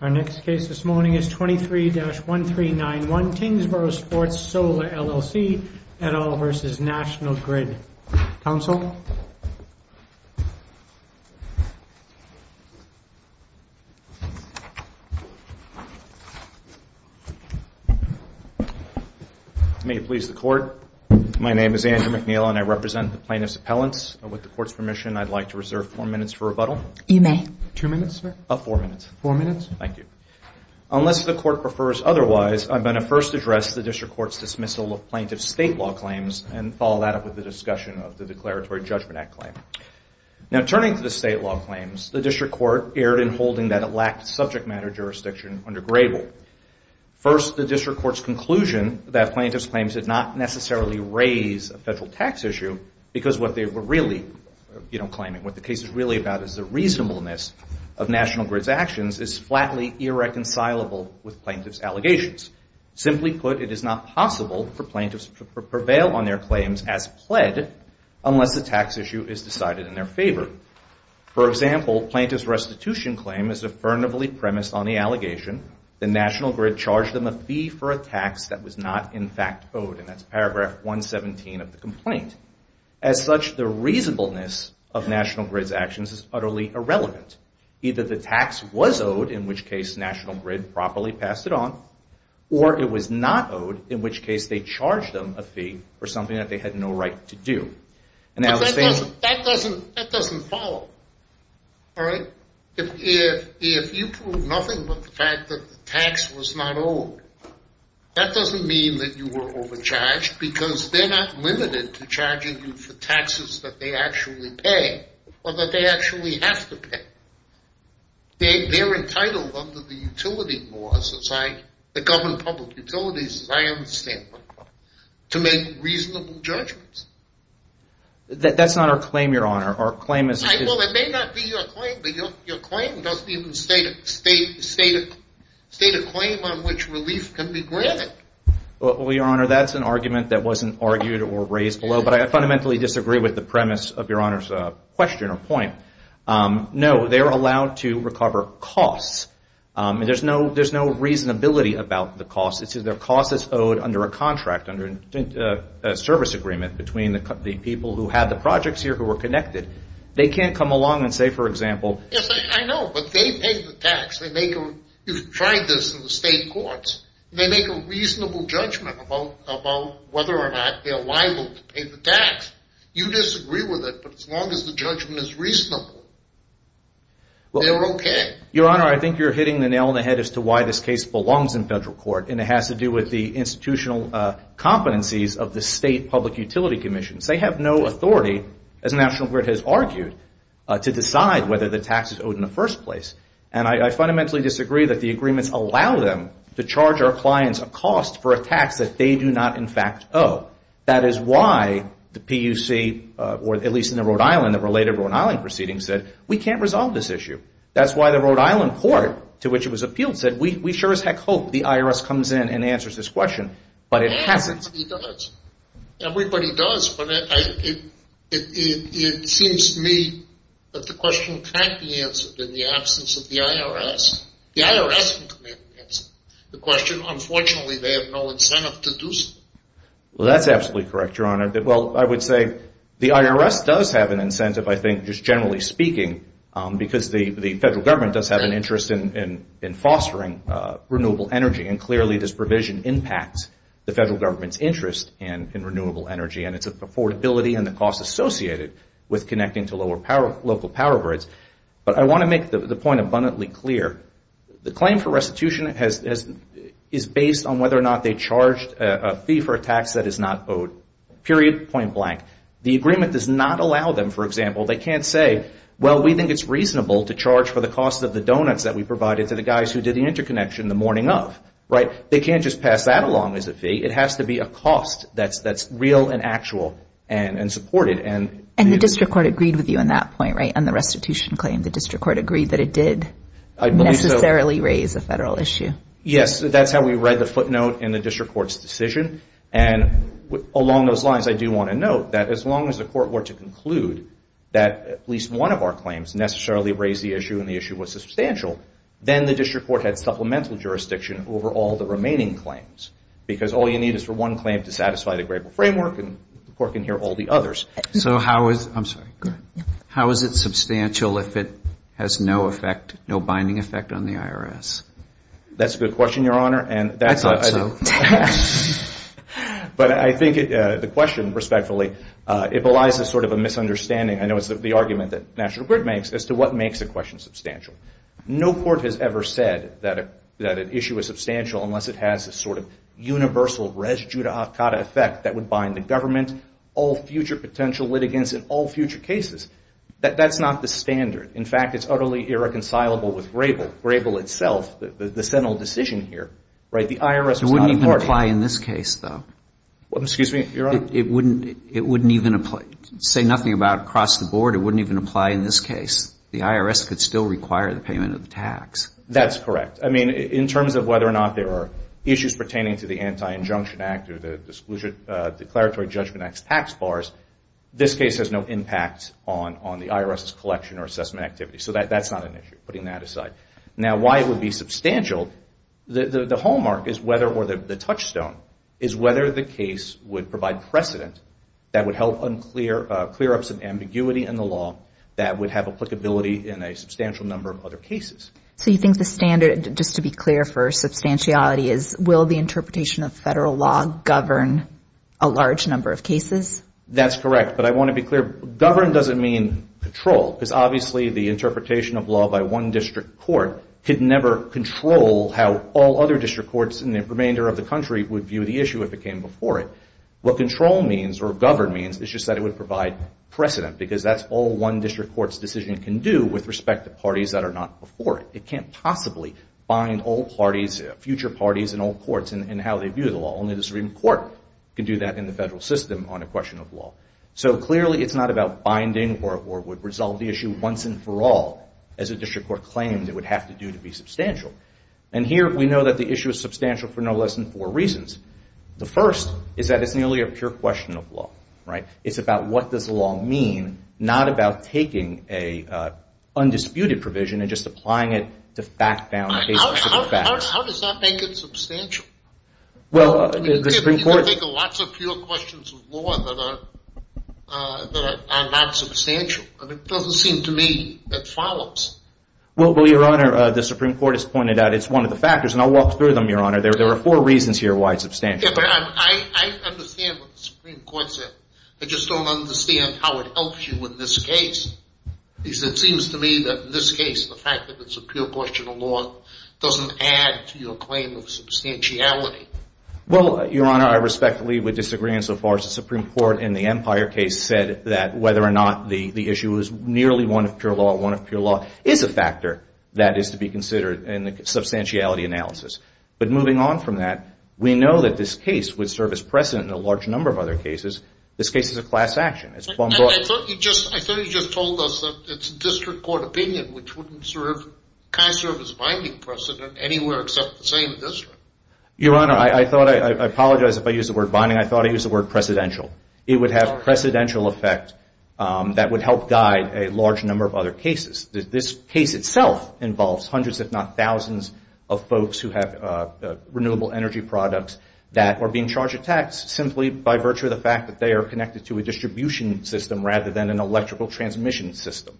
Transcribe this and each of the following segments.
Our next case this morning is 23-1391, Tangsboro Sports Solar, LLC, et al. v. National Grid. Counsel? May it please the Court. My name is Andrew McNeil and I represent the plaintiffs' appellants. With the Court's permission, I'd like to reserve four minutes for rebuttal. You may. Two minutes, sir? Four minutes. Four minutes. Thank you. Unless the Court prefers otherwise, I'm going to first address the District Court's dismissal of plaintiff's state law claims and follow that up with the discussion of the Declaratory Judgment Act claim. Now, turning to the state law claims, the District Court erred in holding that it lacked subject matter jurisdiction under Grable. First, the District Court's conclusion that plaintiff's claims did not necessarily raise a federal tax issue because what they were really, you know, claiming, what the case is really about is the reasonableness of National Grid's actions is flatly irreconcilable with plaintiff's allegations. Simply put, it is not possible for plaintiffs to prevail on their claims as pled unless the tax issue is decided in their favor. For example, plaintiff's restitution claim is affirmatively premised on the allegation that National Grid charged them a fee for a tax that was not in fact owed, and that's paragraph 117 of the complaint. As such, the reasonableness of National Grid's actions is utterly irrelevant. Either the tax was owed, in which case National Grid properly passed it on, or it was not owed, in which case they charged them a fee for something that they had no right to do. And that was... But that doesn't follow, all right? If you prove nothing but the fact that the tax was not owed, that doesn't mean that you were overcharged, because they're not limited to charging you for taxes that they actually pay, or that they actually have to pay. They're entitled under the utility laws that govern public utilities, as I understand them, to make reasonable judgments. That's not our claim, Your Honor. Our claim is... Well, it may not be your claim, but your claim doesn't even state a claim on which relief can be granted. Well, Your Honor, that's an argument that wasn't argued or raised below, but I fundamentally disagree with the premise of Your Honor's question or point. No, they're allowed to recover costs. There's no reasonability about the costs. The cost is owed under a contract, under a service agreement between the people who had the projects here who were connected. They can't come along and say, for example... Yes, I know, but they pay the tax. You've tried this in the state courts. They make a reasonable judgment about whether or not they're liable to pay the tax. You disagree with it, but as long as the judgment is reasonable, they're okay. Your Honor, I think you're hitting the nail on the head as to why this case belongs in federal court, and it has to do with the institutional competencies of the state public utility commissions. They have no authority, as National Grid has argued, to decide whether the tax is owed in the first place. And I fundamentally disagree that the agreements allow them to charge our clients a cost for a tax that they do not, in fact, owe. That is why the PUC, or at least in the Rhode Island, the related Rhode Island proceedings, said, we can't resolve this issue. That's why the Rhode Island court to which it was appealed said, we sure as heck hope the IRS comes in and answers this question, but it hasn't. Everybody does, but it seems to me that the question can't be answered in the absence of the IRS. The IRS can come in and answer the question. Unfortunately, they have no incentive to do so. Well, that's absolutely correct, Your Honor. Well, I would say the IRS does have an incentive, I think, just generally speaking, because the federal government does have an interest in fostering renewable energy, and clearly this provision impacts the federal government's interest in renewable energy, and it's affordability and the cost associated with connecting to local power grids. But I want to make the point abundantly clear. The claim for restitution is based on whether or not they charged a fee for a tax that is not owed, period, point blank. The agreement does not allow them, for example, they can't say, well, we think it's reasonable to charge for the cost of the donuts that we provided to the guys who did the interconnection the morning of, right? They can't just pass that along as a fee. It has to be a cost that's real and actual and supported. And the district court agreed with you on that point, right, on the restitution claim. The district court agreed that it did necessarily raise a federal issue. Yes, that's how we read the footnote in the district court's decision, and along those lines, I do want to note that as long as the court were to conclude that at least one of our claims necessarily raised the issue and the issue was substantial, then the district court had supplemental jurisdiction over all the remaining claims, because all you need is for one claim to satisfy the Grable framework, and the court can hear all the others. I'm sorry, go ahead. How is it substantial if it has no binding effect on the IRS? That's a good question, Your Honor. I thought so. But I think the question, respectfully, it belies a sort of a misunderstanding. I know it's the argument that National Grid makes as to what makes a question substantial. No court has ever said that an issue is substantial unless it has a sort of universal residue that would bind the government, all future potential litigants in all future cases. That's not the standard. In fact, it's utterly irreconcilable with Grable. Grable itself, the sentinel decision here, right, the IRS was not a party. It wouldn't even apply in this case, though. Excuse me, Your Honor? It wouldn't even apply. Say nothing about across the board, it wouldn't even apply in this case. The IRS could still require the payment of the tax. That's correct. I mean, in terms of whether or not there are issues pertaining to the Anti-Injunction Act or the Declaratory Judgment Act's tax bars, this case has no impact on the IRS's collection or assessment activity. So that's not an issue, putting that aside. Now, why it would be substantial, the hallmark is whether, or the touchstone, is whether the case would provide precedent that would help clear up some ambiguity in the law that would have applicability in a substantial number of other cases. So you think the standard, just to be clear for substantiality, is will the interpretation of federal law govern a large number of cases? That's correct. But I want to be clear, govern doesn't mean control, because obviously the interpretation of law by one district court could never control how all other district courts in the remainder of the country would view the issue if it came before it. What control means, or govern means, is just that it would provide precedent, because that's all one district court's decision can do with respect to parties that are not before it. It can't possibly bind all parties, future parties in all courts, in how they view the law. Only the Supreme Court can do that in the federal system on a question of law. So clearly it's not about binding or would resolve the issue once and for all, as a district court claims it would have to do to be substantial. And here we know that the issue is substantial for no less than four reasons. The first is that it's nearly a pure question of law. It's about what does law mean, not about taking an undisputed provision and just applying it to fact-bound cases of the facts. How does that make it substantial? Well, the Supreme Court— You can think of lots of pure questions of law that are not substantial. It doesn't seem to me it follows. Well, Your Honor, the Supreme Court has pointed out it's one of the factors, and I'll walk through them, Your Honor. There are four reasons here why it's substantial. Yeah, but I understand what the Supreme Court said. I just don't understand how it helps you in this case. Because it seems to me that in this case, the fact that it's a pure question of law doesn't add to your claim of substantiality. Well, Your Honor, I respectfully would disagree insofar as the Supreme Court in the Empire case said that whether or not the issue is nearly one of pure law or one of pure law is a factor that is to be considered in the substantiality analysis. But moving on from that, we know that this case would serve as precedent in a large number of other cases. This case is a class action. I thought you just told us that it's a district court opinion, which wouldn't serve—kind of serve as a binding precedent anywhere except the same district. Your Honor, I apologize if I used the word binding. I thought I used the word precedential. It would have a precedential effect that would help guide a large number of other cases. This case itself involves hundreds if not thousands of folks who have renewable energy products that are being charged a tax simply by virtue of the fact that they are connected to a distribution system rather than an electrical transmission system.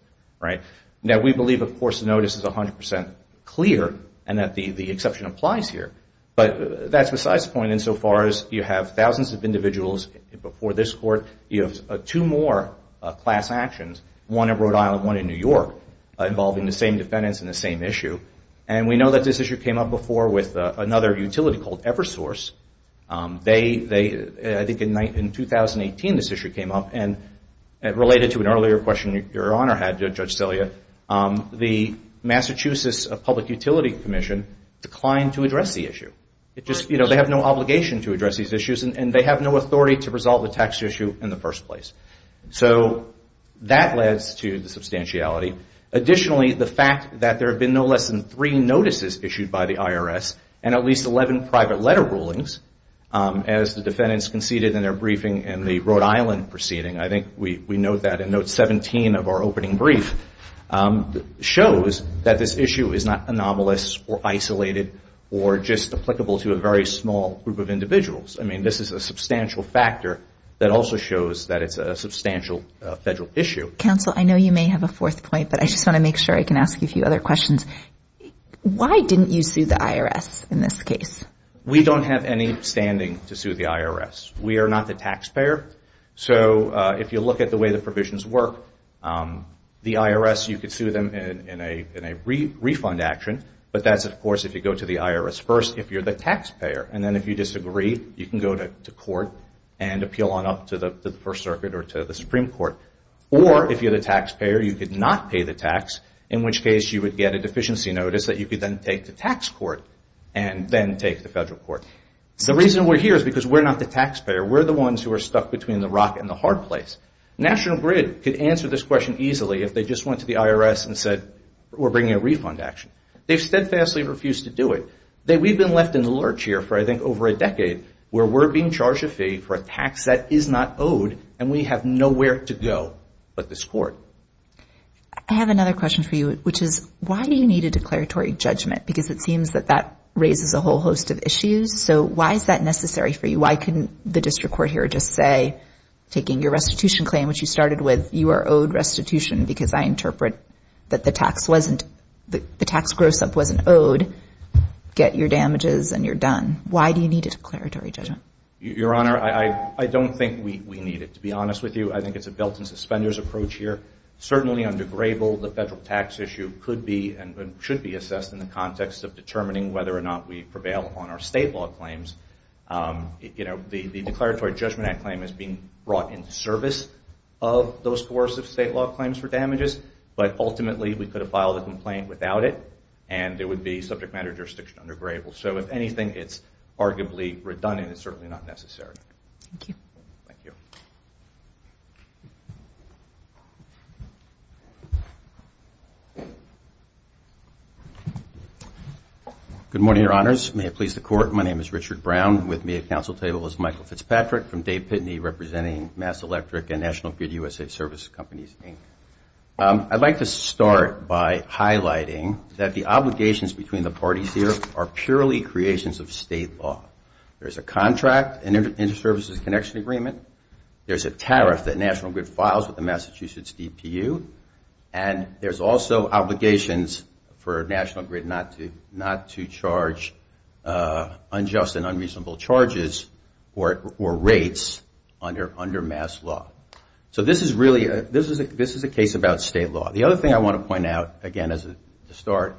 Now, we believe, of course, the notice is 100 percent clear and that the exception applies here. But that's besides the point. Insofar as you have thousands of individuals before this court, you have two more class actions, one in Rhode Island, one in New York, involving the same defendants and the same issue. And we know that this issue came up before with another utility called Eversource. They—I think in 2018 this issue came up. And related to an earlier question your Honor had, Judge Celia, the Massachusetts Public Utility Commission declined to address the issue. It just—you know, they have no obligation to address these issues and they have no authority to resolve the tax issue in the first place. So that leads to the substantiality. Additionally, the fact that there have been no less than three notices issued by the IRS and at least 11 private letter rulings, as the defendants conceded in their briefing in the Rhode Island proceeding, I think we note that in note 17 of our opening brief, shows that this issue is not anomalous or isolated or just applicable to a very small group of individuals. I mean, this is a substantial factor that also shows that it's a substantial federal issue. Counsel, I know you may have a fourth point, but I just want to make sure I can ask you a few other questions. Why didn't you sue the IRS in this case? We don't have any standing to sue the IRS. We are not the taxpayer. So if you look at the way the provisions work, the IRS, you could sue them in a refund action, but that's, of course, if you go to the IRS first if you're the taxpayer. And then if you disagree, you can go to court and appeal on up to the First Circuit or to the Supreme Court. Or if you're the taxpayer, you could not pay the tax, in which case you would get a deficiency notice that you could then take to tax court and then take to federal court. The reason we're here is because we're not the taxpayer. We're the ones who are stuck between the rock and the hard place. National Grid could answer this question easily if they just went to the IRS and said, we're bringing a refund action. They've steadfastly refused to do it. We've been left in the lurch here for, I think, over a decade where we're being charged a fee for a tax that is not owed and we have nowhere to go but this court. I have another question for you, which is, why do you need a declaratory judgment? Because it seems that that raises a whole host of issues. So why is that necessary for you? Why couldn't the district court here just say, taking your restitution claim, which you started with, you are owed restitution because I interpret that the tax wasn't, the tax gross-up wasn't owed, get your damages and you're done. Why do you need a declaratory judgment? Your Honor, I don't think we need it, to be honest with you. I think it's a built-in suspenders approach here. Certainly under Grable, the federal tax issue could be and should be assessed in the context of determining whether or not we prevail on our state law claims. The Declaratory Judgment Act claim is being brought into service of those coercive state law claims for damages, but ultimately we could have filed a complaint without it and it would be subject matter jurisdiction under Grable. So if anything, it's arguably redundant. It's certainly not necessary. Thank you. Thank you. Good morning, Your Honors. May it please the Court, my name is Richard Brown. With me at council table is Michael Fitzpatrick from Dave Pitney representing MassElectric and National Grid USA Service Companies, Inc. I'd like to start by highlighting that the obligations between the parties here are purely creations of state law. There's a contract, Inter-Services Connection Agreement. There's a tariff that National Grid files with the Massachusetts DPU. And there's also obligations for National Grid not to charge unjust and unreasonable charges or rates under mass law. So this is a case about state law. The other thing I want to point out, again, to start,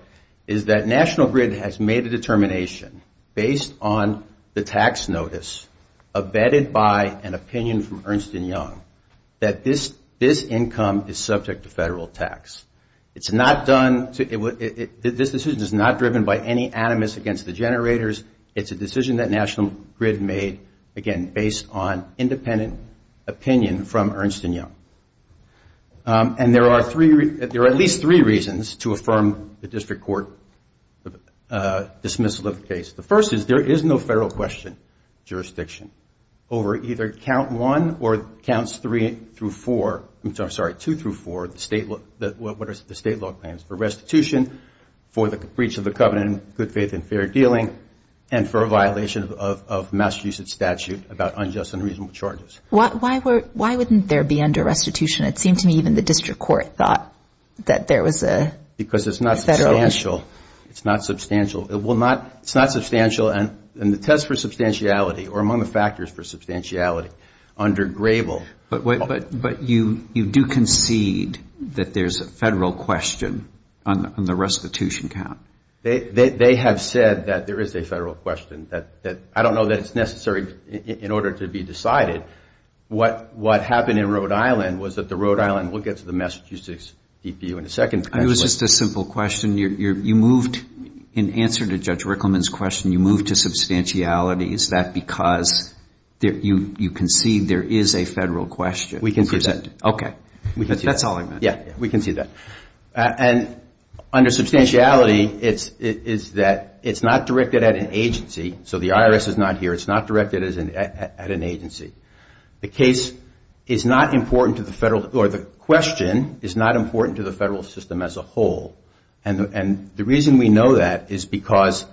is that National Grid has made a determination based on the tax notice abetted by an opinion from Ernst & Young that this income is subject to federal tax. This decision is not driven by any animus against the generators. It's a decision that National Grid made, again, based on independent opinion from Ernst & Young. And there are at least three reasons to affirm the district court dismissal of the case. The first is there is no federal question jurisdiction over either count one or counts three through four, I'm sorry, two through four, the state law claims for restitution, for the breach of the covenant of good faith and fair dealing, and for a violation of Massachusetts statute about unjust and unreasonable charges. Why wouldn't there be under restitution? It seemed to me even the district court thought that there was a federal issue. Because it's not substantial. It's not substantial. It's not substantial, and the test for substantiality or among the factors for substantiality under Grable. But you do concede that there's a federal question on the restitution count. They have said that there is a federal question. I don't know that it's necessary in order to be decided. What happened in Rhode Island was that the Rhode Island will get to the Massachusetts DPU in a second. It was just a simple question. You moved in answer to Judge Rickleman's question, you moved to substantiality. Is that because you concede there is a federal question? We concede that. Okay, that's all I meant. Yeah, we concede that. And under substantiality, it's that it's not directed at an agency. So the IRS is not here. It's not directed at an agency. The case is not important to the federal or the question is not important to the federal system as a whole. And the reason we know that is because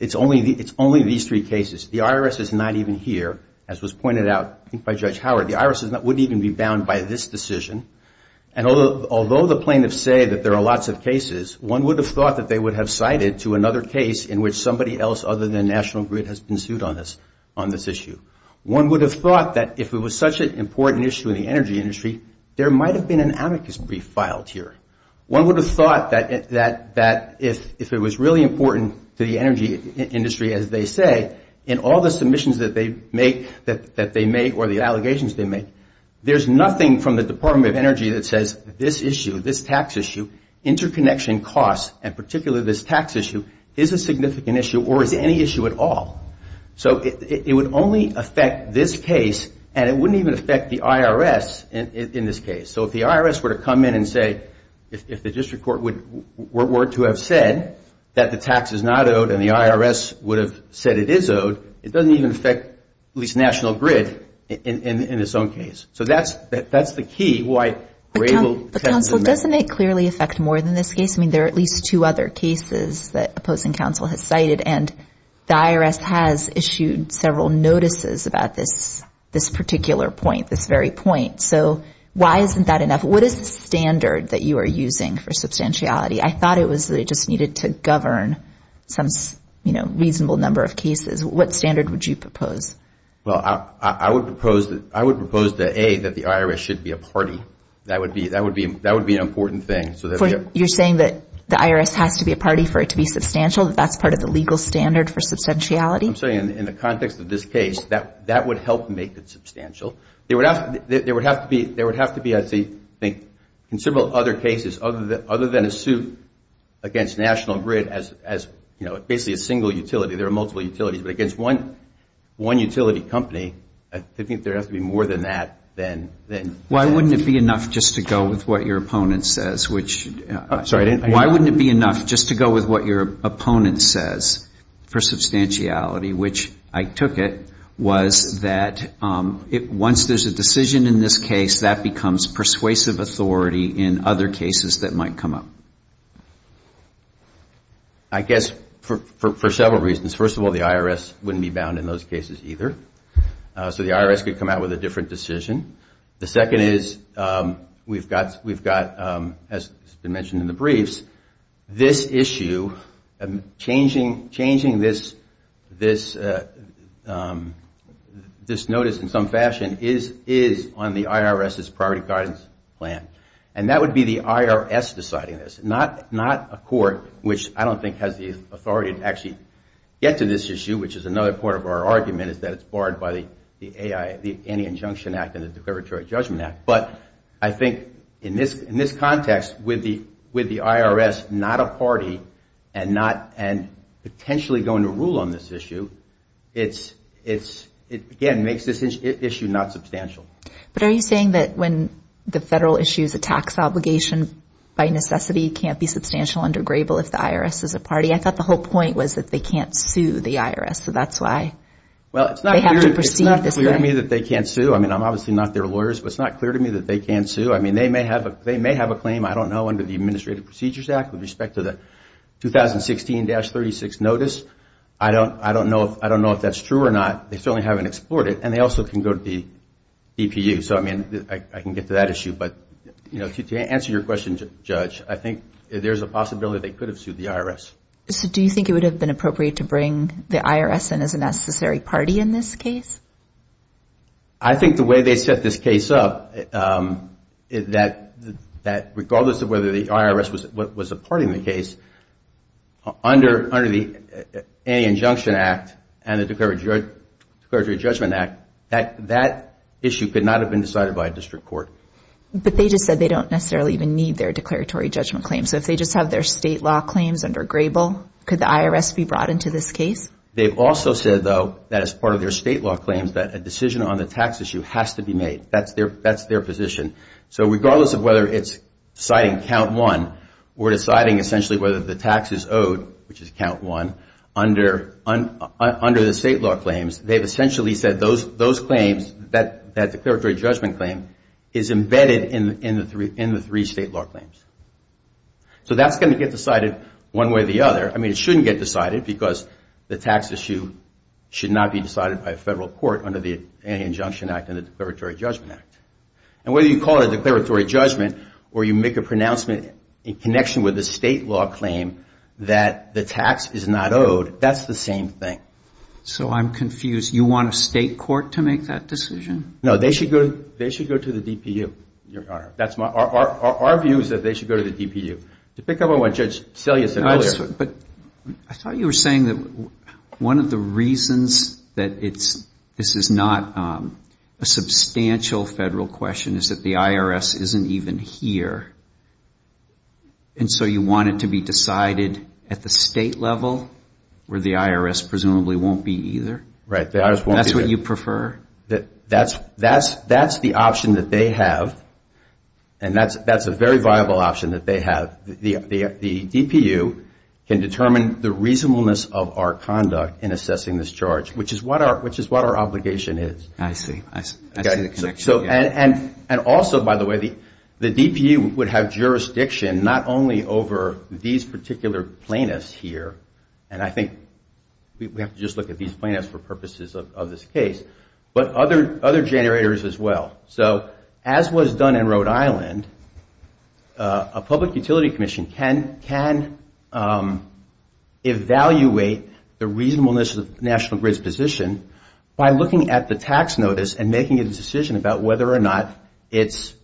it's only these three cases. The IRS is not even here, as was pointed out by Judge Howard. The IRS wouldn't even be bound by this decision. And although the plaintiffs say that there are lots of cases, one would have thought that they would have cited to another case in which somebody else other than National Grid has been sued on this issue. One would have thought that if it was such an important issue in the energy industry, there might have been an amicus brief filed here. One would have thought that if it was really important to the energy industry, as they say, in all the submissions that they make or the allegations they make, there's nothing from the Department of Energy that says this issue, this tax issue, interconnection costs, and particularly this tax issue, is a significant issue or is any issue at all. So it would only affect this case, and it wouldn't even affect the IRS in this case. So if the IRS were to come in and say, if the district court were to have said that the tax is not owed and the IRS would have said it is owed, it doesn't even affect at least National Grid in its own case. So that's the key why Grable tends to make... But counsel, doesn't it clearly affect more than this case? I mean, there are at least two other cases that opposing counsel has cited, and the IRS has issued several notices about this particular point, this very point. So why isn't that enough? What is the standard that you are using for substantiality? I thought it was that it just needed to govern some reasonable number of cases. What standard would you propose? Well, I would propose that, A, that the IRS should be a party. That would be an important thing. You're saying that the IRS has to be a party for it to be substantial, that that's part of the legal standard for substantiality? I'm saying in the context of this case, that would help make it substantial. There would have to be, I think, in several other cases, other than a suit against National Grid as basically a single utility. There are multiple utilities, but against one utility company, I think there has to be more than that. Why wouldn't it be enough just to go with what your opponent says? Why wouldn't it be enough just to go with what your opponent says for substantiality, which I took it was that once there's a decision in this case, that becomes persuasive authority in other cases that might come up? I guess for several reasons. First of all, the IRS wouldn't be bound in those cases either. So the IRS could come out with a different decision. The second is, we've got, as has been mentioned in the briefs, this issue, changing this notice in some fashion, is on the IRS's priority guidance plan. And that would be the IRS deciding this, not a court, which I don't think has the authority to actually get to this issue, which is another part of our argument, is that it's barred by the Anti-Injunction Act and the Declaratory Judgment Act. But I think in this context, with the IRS not a party and potentially going to rule on this issue, it again makes this issue not substantial. But are you saying that when the federal issues a tax obligation by necessity can't be substantial under Grable if the IRS is a party? I thought the whole point was that they can't sue the IRS, so that's why they have to proceed this way. Well, it's not clear to me that they can't sue. I mean, I'm obviously not their lawyer, but it's not clear to me that they can't sue. I mean, they may have a claim, I don't know, under the Administrative Procedures Act with respect to the 2016-36 notice. I don't know if that's true or not. They certainly haven't explored it. And they also can go to the DPU. So, I mean, I can get to that issue. But, you know, to answer your question, Judge, I think there's a possibility they could have sued the IRS. So do you think it would have been appropriate to bring the IRS in as a necessary party in this case? I think the way they set this case up, that regardless of whether the IRS was a party in the case, under the Anti-Injunction Act and the Declaratory Judgment Act, that issue could not have been decided by a district court. But they just said they don't necessarily even need their declaratory judgment claim. So if they just have their state law claims under Grable, could the IRS be brought into this case? They've also said, though, that as part of their state law claims, that a decision on the tax issue has to be made. That's their position. So regardless of whether it's citing count one or deciding essentially whether the tax is owed, which is count one, under the state law claims, they've essentially said those claims, that declaratory judgment claim, is embedded in the three state law claims. So that's going to get decided one way or the other. I mean, it shouldn't get decided, because the tax issue should not be decided by a federal court under the Anti-Injunction Act and the Declaratory Judgment Act. And whether you call it a declaratory judgment or you make a pronouncement in connection with a state law claim that the tax is not owed, that's the same thing. So I'm confused. You want a state court to make that decision? No, they should go to the DPU, Your Honor. Our view is that they should go to the DPU. To pick up on what Judge Selye said earlier. But I thought you were saying that one of the reasons that this is not a substantial federal question is that the IRS isn't even here. And so you want it to be decided at the state level, where the IRS presumably won't be either? Right. That's what you prefer? That's the option that they have. And that's a very viable option that they have. The DPU can determine the reasonableness of our conduct in assessing this charge, which is what our obligation is. I see. And also, by the way, the DPU would have jurisdiction not only over these particular plaintiffs here, and I think we have to just look at these plaintiffs for purposes of this case, but other generators as well. So as was done in Rhode Island, a public utility commission can evaluate the reasonableness of the National Grid's position by looking at the tax notice and making a decision about whether or not it's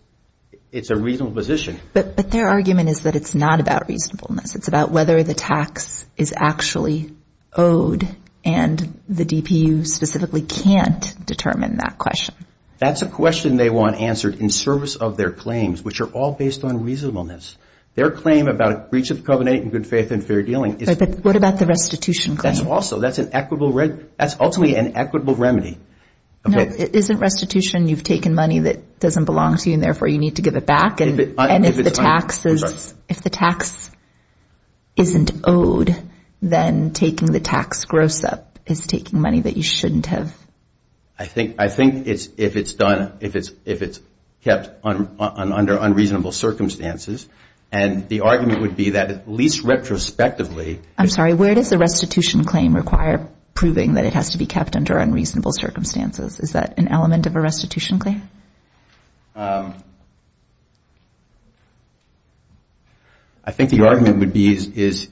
a reasonable position. But their argument is that it's not about reasonableness. It's about whether the tax is actually owed, and the DPU specifically can't determine that question. That's a question they want answered in service of their claims, which are all based on reasonableness. Their claim about breach of the covenant in good faith and fair dealing is... But what about the restitution claim? That's ultimately an equitable remedy. Isn't restitution you've taken money that doesn't belong to you, and therefore you need to give it back? And if the tax isn't owed, then taking the tax gross up is taking money that you shouldn't have. I think if it's done, if it's kept under unreasonable circumstances, and the argument would be that at least retrospectively... I'm sorry, where does the restitution claim require proving that it has to be kept under unreasonable circumstances? Is that an element of a restitution claim? I think the argument would be is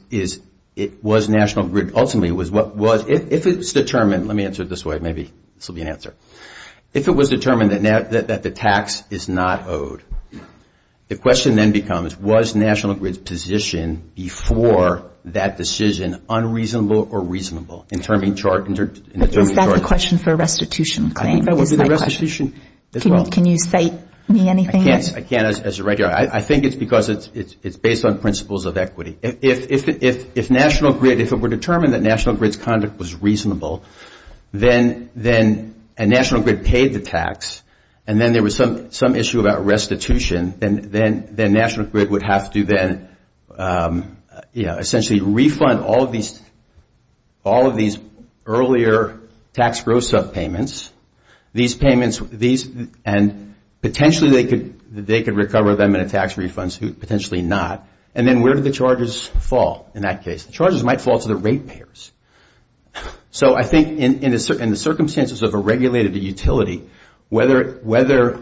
it was National Grid... Ultimately, it was what was... If it's determined... Let me answer it this way. Maybe this will be an answer. If it was determined that the tax is not owed, the question then becomes was National Grid's position before that decision unreasonable or reasonable? Is that the question for a restitution claim? I think that would be the restitution as well. Can you cite me anything? I can't as a regular. I think it's because it's based on principles of equity. If National Grid... If it were determined that National Grid's conduct was reasonable, then National Grid paid the tax, and then there was some issue about restitution, then National Grid would have to then essentially refund all of these earlier tax growth subpayments. Potentially, they could recover them in a tax refund. Potentially not. Then where do the charges fall in that case? The charges might fall to the rate payers. I think in the circumstances of a regulated utility, whether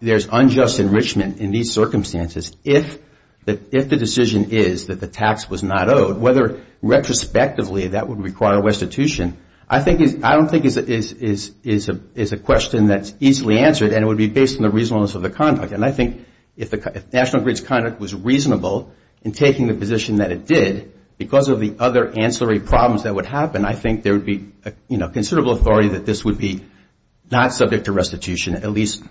there's unjust enrichment in these circumstances, if the decision is that the tax was not owed, whether retrospectively that would require restitution, I don't think is a question that's easily answered, and it would be based on the reasonableness of the conduct. I think if National Grid's conduct was reasonable in taking the position that it did, because of the other ancillary problems that would happen, I think there would be considerable authority that this would be not subject to restitution, at least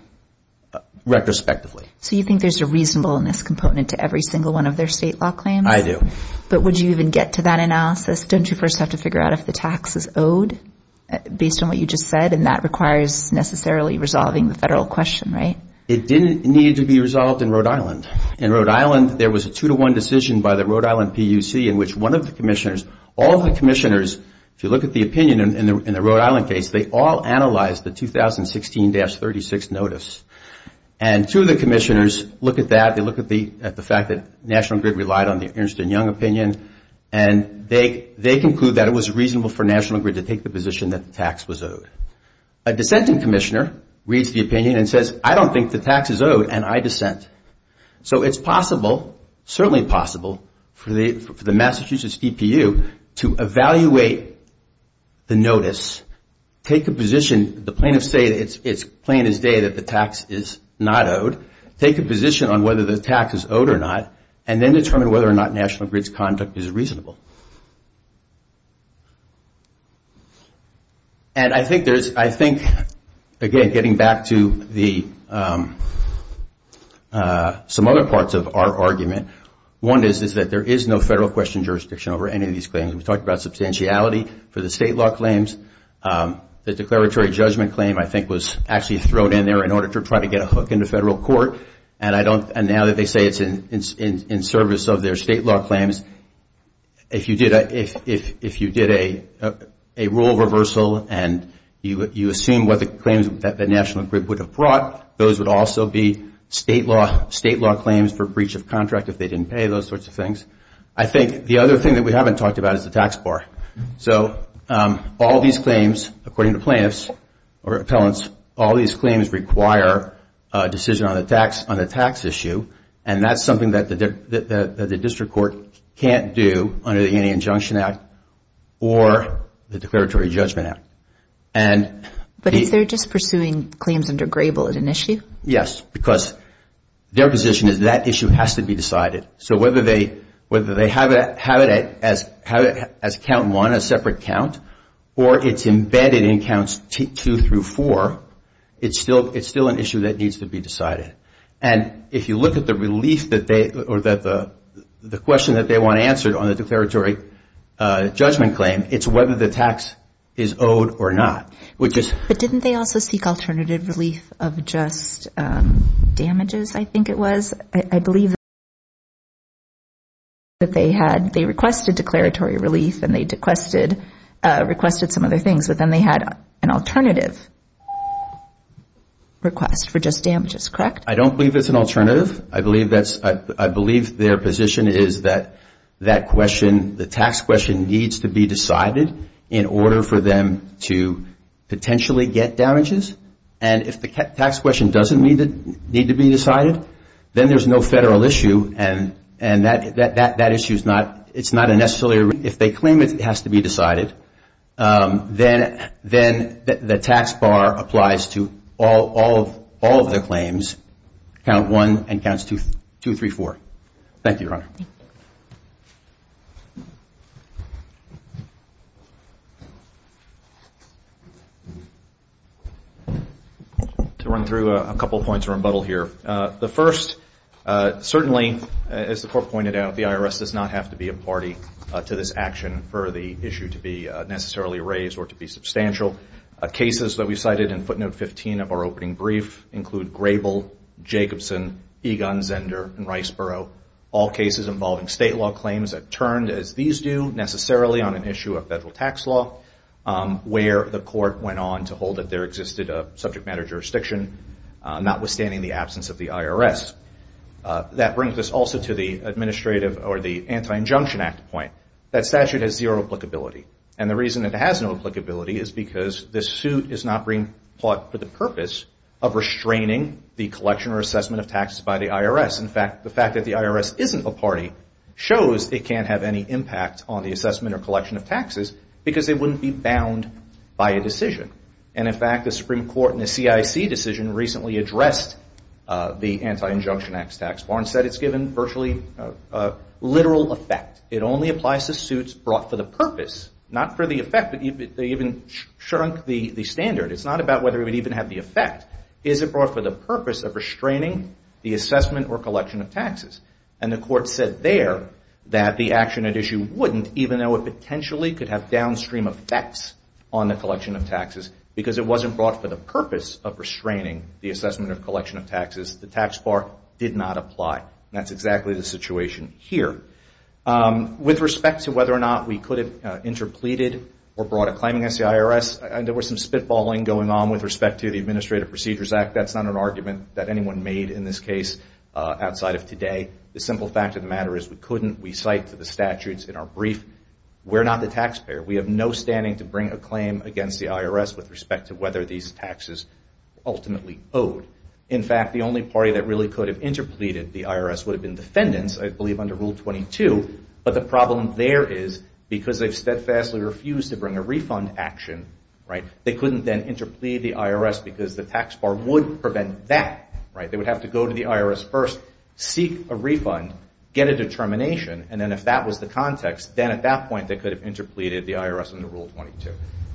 retrospectively. So you think there's a reasonableness component to every single one of their state law claims? I do. But would you even get to that analysis? Don't you first have to figure out if the tax is owed based on what you just said, and that requires necessarily resolving the federal question, right? It didn't need to be resolved in Rhode Island. In Rhode Island, there was a two-to-one decision by the Rhode Island PUC in which one of the commissioners, all of the commissioners, if you look at the opinion in the Rhode Island case, they all analyzed the 2016-36 notice. And two of the commissioners look at that, they look at the fact that National Grid relied on the Ernst & Young opinion, and they conclude that it was reasonable for National Grid to take the position that the tax was owed. A dissenting commissioner reads the opinion and says, I don't think the tax is owed, and I dissent. So it's possible, certainly possible, for the Massachusetts DPU to evaluate the notice, take a position, the plaintiffs say it's plain as day that the tax is not owed, take a position on whether the tax is owed or not, and then determine whether or not National Grid's conduct is reasonable. And I think, again, getting back to some other parts of our argument, one is that there is no federal question jurisdiction over any of these claims. We talked about substantiality for the state law claims. The declaratory judgment claim, I think, was actually thrown in there in order to try to get a hook into federal court, and now that they say it's in service of their state law claims, if you did a rule reversal and you assume what the claims that National Grid would have brought, those would also be state law claims for breach of contract if they didn't pay, those sorts of things. I think the other thing that we haven't talked about is the tax bar. So all these claims, according to plaintiffs or appellants, all these claims require a decision on a tax issue, and that's something that the district court can't do under the Indian Injunction Act or the Declaratory Judgment Act. But is there just pursuing claims under Grable as an issue? Yes, because their position is that issue has to be decided. So whether they have it as count one, a separate count, or it's embedded in counts two through four, it's still an issue that needs to be decided. And if you look at the question that they want answered on the declaratory judgment claim, it's whether the tax is owed or not. But didn't they also seek alternative relief of just damages, I think it was? I believe that they requested declaratory relief and they requested some other things, but then they had an alternative request for just damages, correct? I don't believe it's an alternative. I believe their position is that that question, that tax question needs to be decided in order for them to potentially get damages. And if the tax question doesn't need to be decided, then there's no federal issue and that issue is not a necessary issue. If they claim it has to be decided, then the tax bar applies to all of their claims, count one and counts two through four. Thank you, Your Honor. To run through a couple points of rebuttal here. The first, certainly, as the court pointed out, the IRS does not have to be a party to this action for the issue to be necessarily raised or to be substantial. Cases that we cited in footnote 15 of our opening brief include Grable, Jacobson, Egon, Zender, and Riceboro, all cases involving state law claims that turned, as these do, necessarily on an issue of federal tax law, where the court went on to hold that there existed a subject matter jurisdiction, notwithstanding the absence of the IRS. That brings us also to the Anti-Injunction Act point. That statute has zero applicability. And the reason it has no applicability is because this suit is not being brought for the purpose of restraining the collection or assessment of taxes by the IRS. In fact, the fact that the IRS isn't a party shows it can't have any impact on the assessment or collection of taxes because it wouldn't be bound by a decision. And in fact, the Supreme Court in the CIC decision recently addressed the Anti-Injunction Act's tax bar and said it's given virtually literal effect. It only applies to suits brought for the purpose, not for the effect, but they even shrunk the standard. It's not about whether it would even have the effect. Is it brought for the purpose of restraining the assessment or collection of taxes? And the court said there that the action at issue wouldn't, even though it potentially could have downstream effects on the collection of taxes, because it wasn't brought for the purpose of restraining the assessment or collection of taxes. The tax bar did not apply. That's exactly the situation here. With respect to whether or not we could have interpleaded or brought a claim against the IRS, there was some spitballing going on with respect to the Administrative Procedures Act. That's not an argument that anyone made in this case outside of today. The simple fact of the matter is we couldn't. We cite the statutes in our brief. We're not the taxpayer. We have no standing to bring a claim against the IRS with respect to whether these taxes were ultimately owed. In fact, the only party that really could have interpleaded the IRS would have been defendants, I believe under Rule 22, but the problem there is because they've steadfastly refused to bring a refund action, they couldn't then interplead the IRS because the tax bar would prevent that. They would have to go to the IRS first, seek a refund, get a determination, and then if that was the context, then at that point they could have interpleaded the IRS under Rule 22.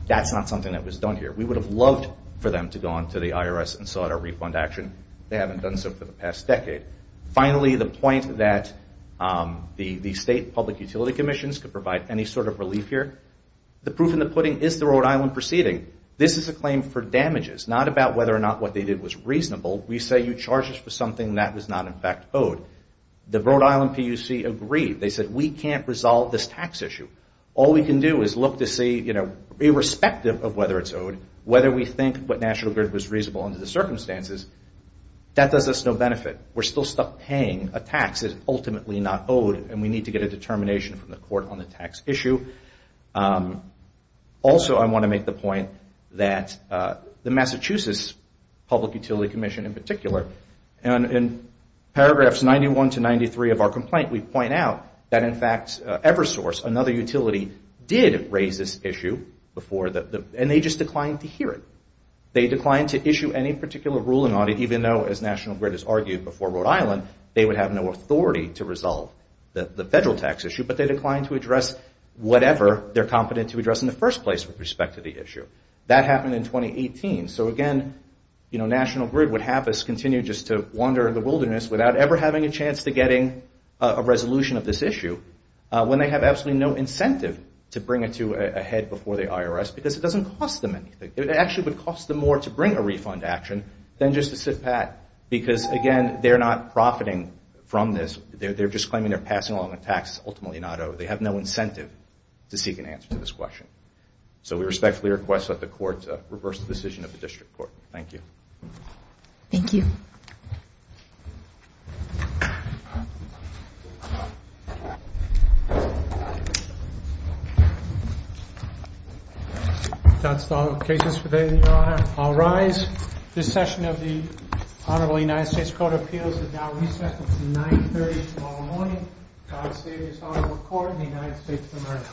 That's not something that was done here. We would have loved for them to go on to the IRS and sought a refund action. They haven't done so for the past decade. Finally, the point that the state public utility commissions could provide any sort of relief here, the proof in the pudding is the Rhode Island proceeding. This is a claim for damages, not about whether or not what they did was reasonable. We say you charged us for something that was not in fact owed. The Rhode Island PUC agreed. They said we can't resolve this tax issue. All we can do is look to see, irrespective of whether it's owed, whether we think what National Grid was reasonable under the circumstances, that does us no benefit. We're still stuck paying a tax that's ultimately not owed and we need to get a determination from the court on the tax issue. Also, I want to make the point that the Massachusetts Public Utility Commission in particular, in paragraphs 91 to 93 of our complaint, we point out that in fact Eversource, another utility, did raise this issue and they just declined to hear it. They declined to issue any particular ruling on it, even though, as National Grid has argued before Rhode Island, they would have no authority to resolve the federal tax issue, but they declined to address whatever they're competent to address in the first place with respect to the issue. That happened in 2018. So again, National Grid would have us continue just to wander the wilderness without ever having a chance to getting a resolution of this issue when they have absolutely no incentive to bring it to a head before the IRS because it doesn't cost them anything. It actually would cost them more to bring a refund action than just to sit back because, again, they're not profiting from this. They're just claiming they're passing along a tax that's ultimately not owed. They have no incentive to seek an answer to this question. So we respectfully request that the court reverse the decision of the district court. Thank you. Thank you. Thank you. That's all the cases for today, Your Honor. I'll rise. This session of the Honorable United States Court of Appeals is now recessed until 9.30 tomorrow morning. God save this Honorable Court and the United States of America.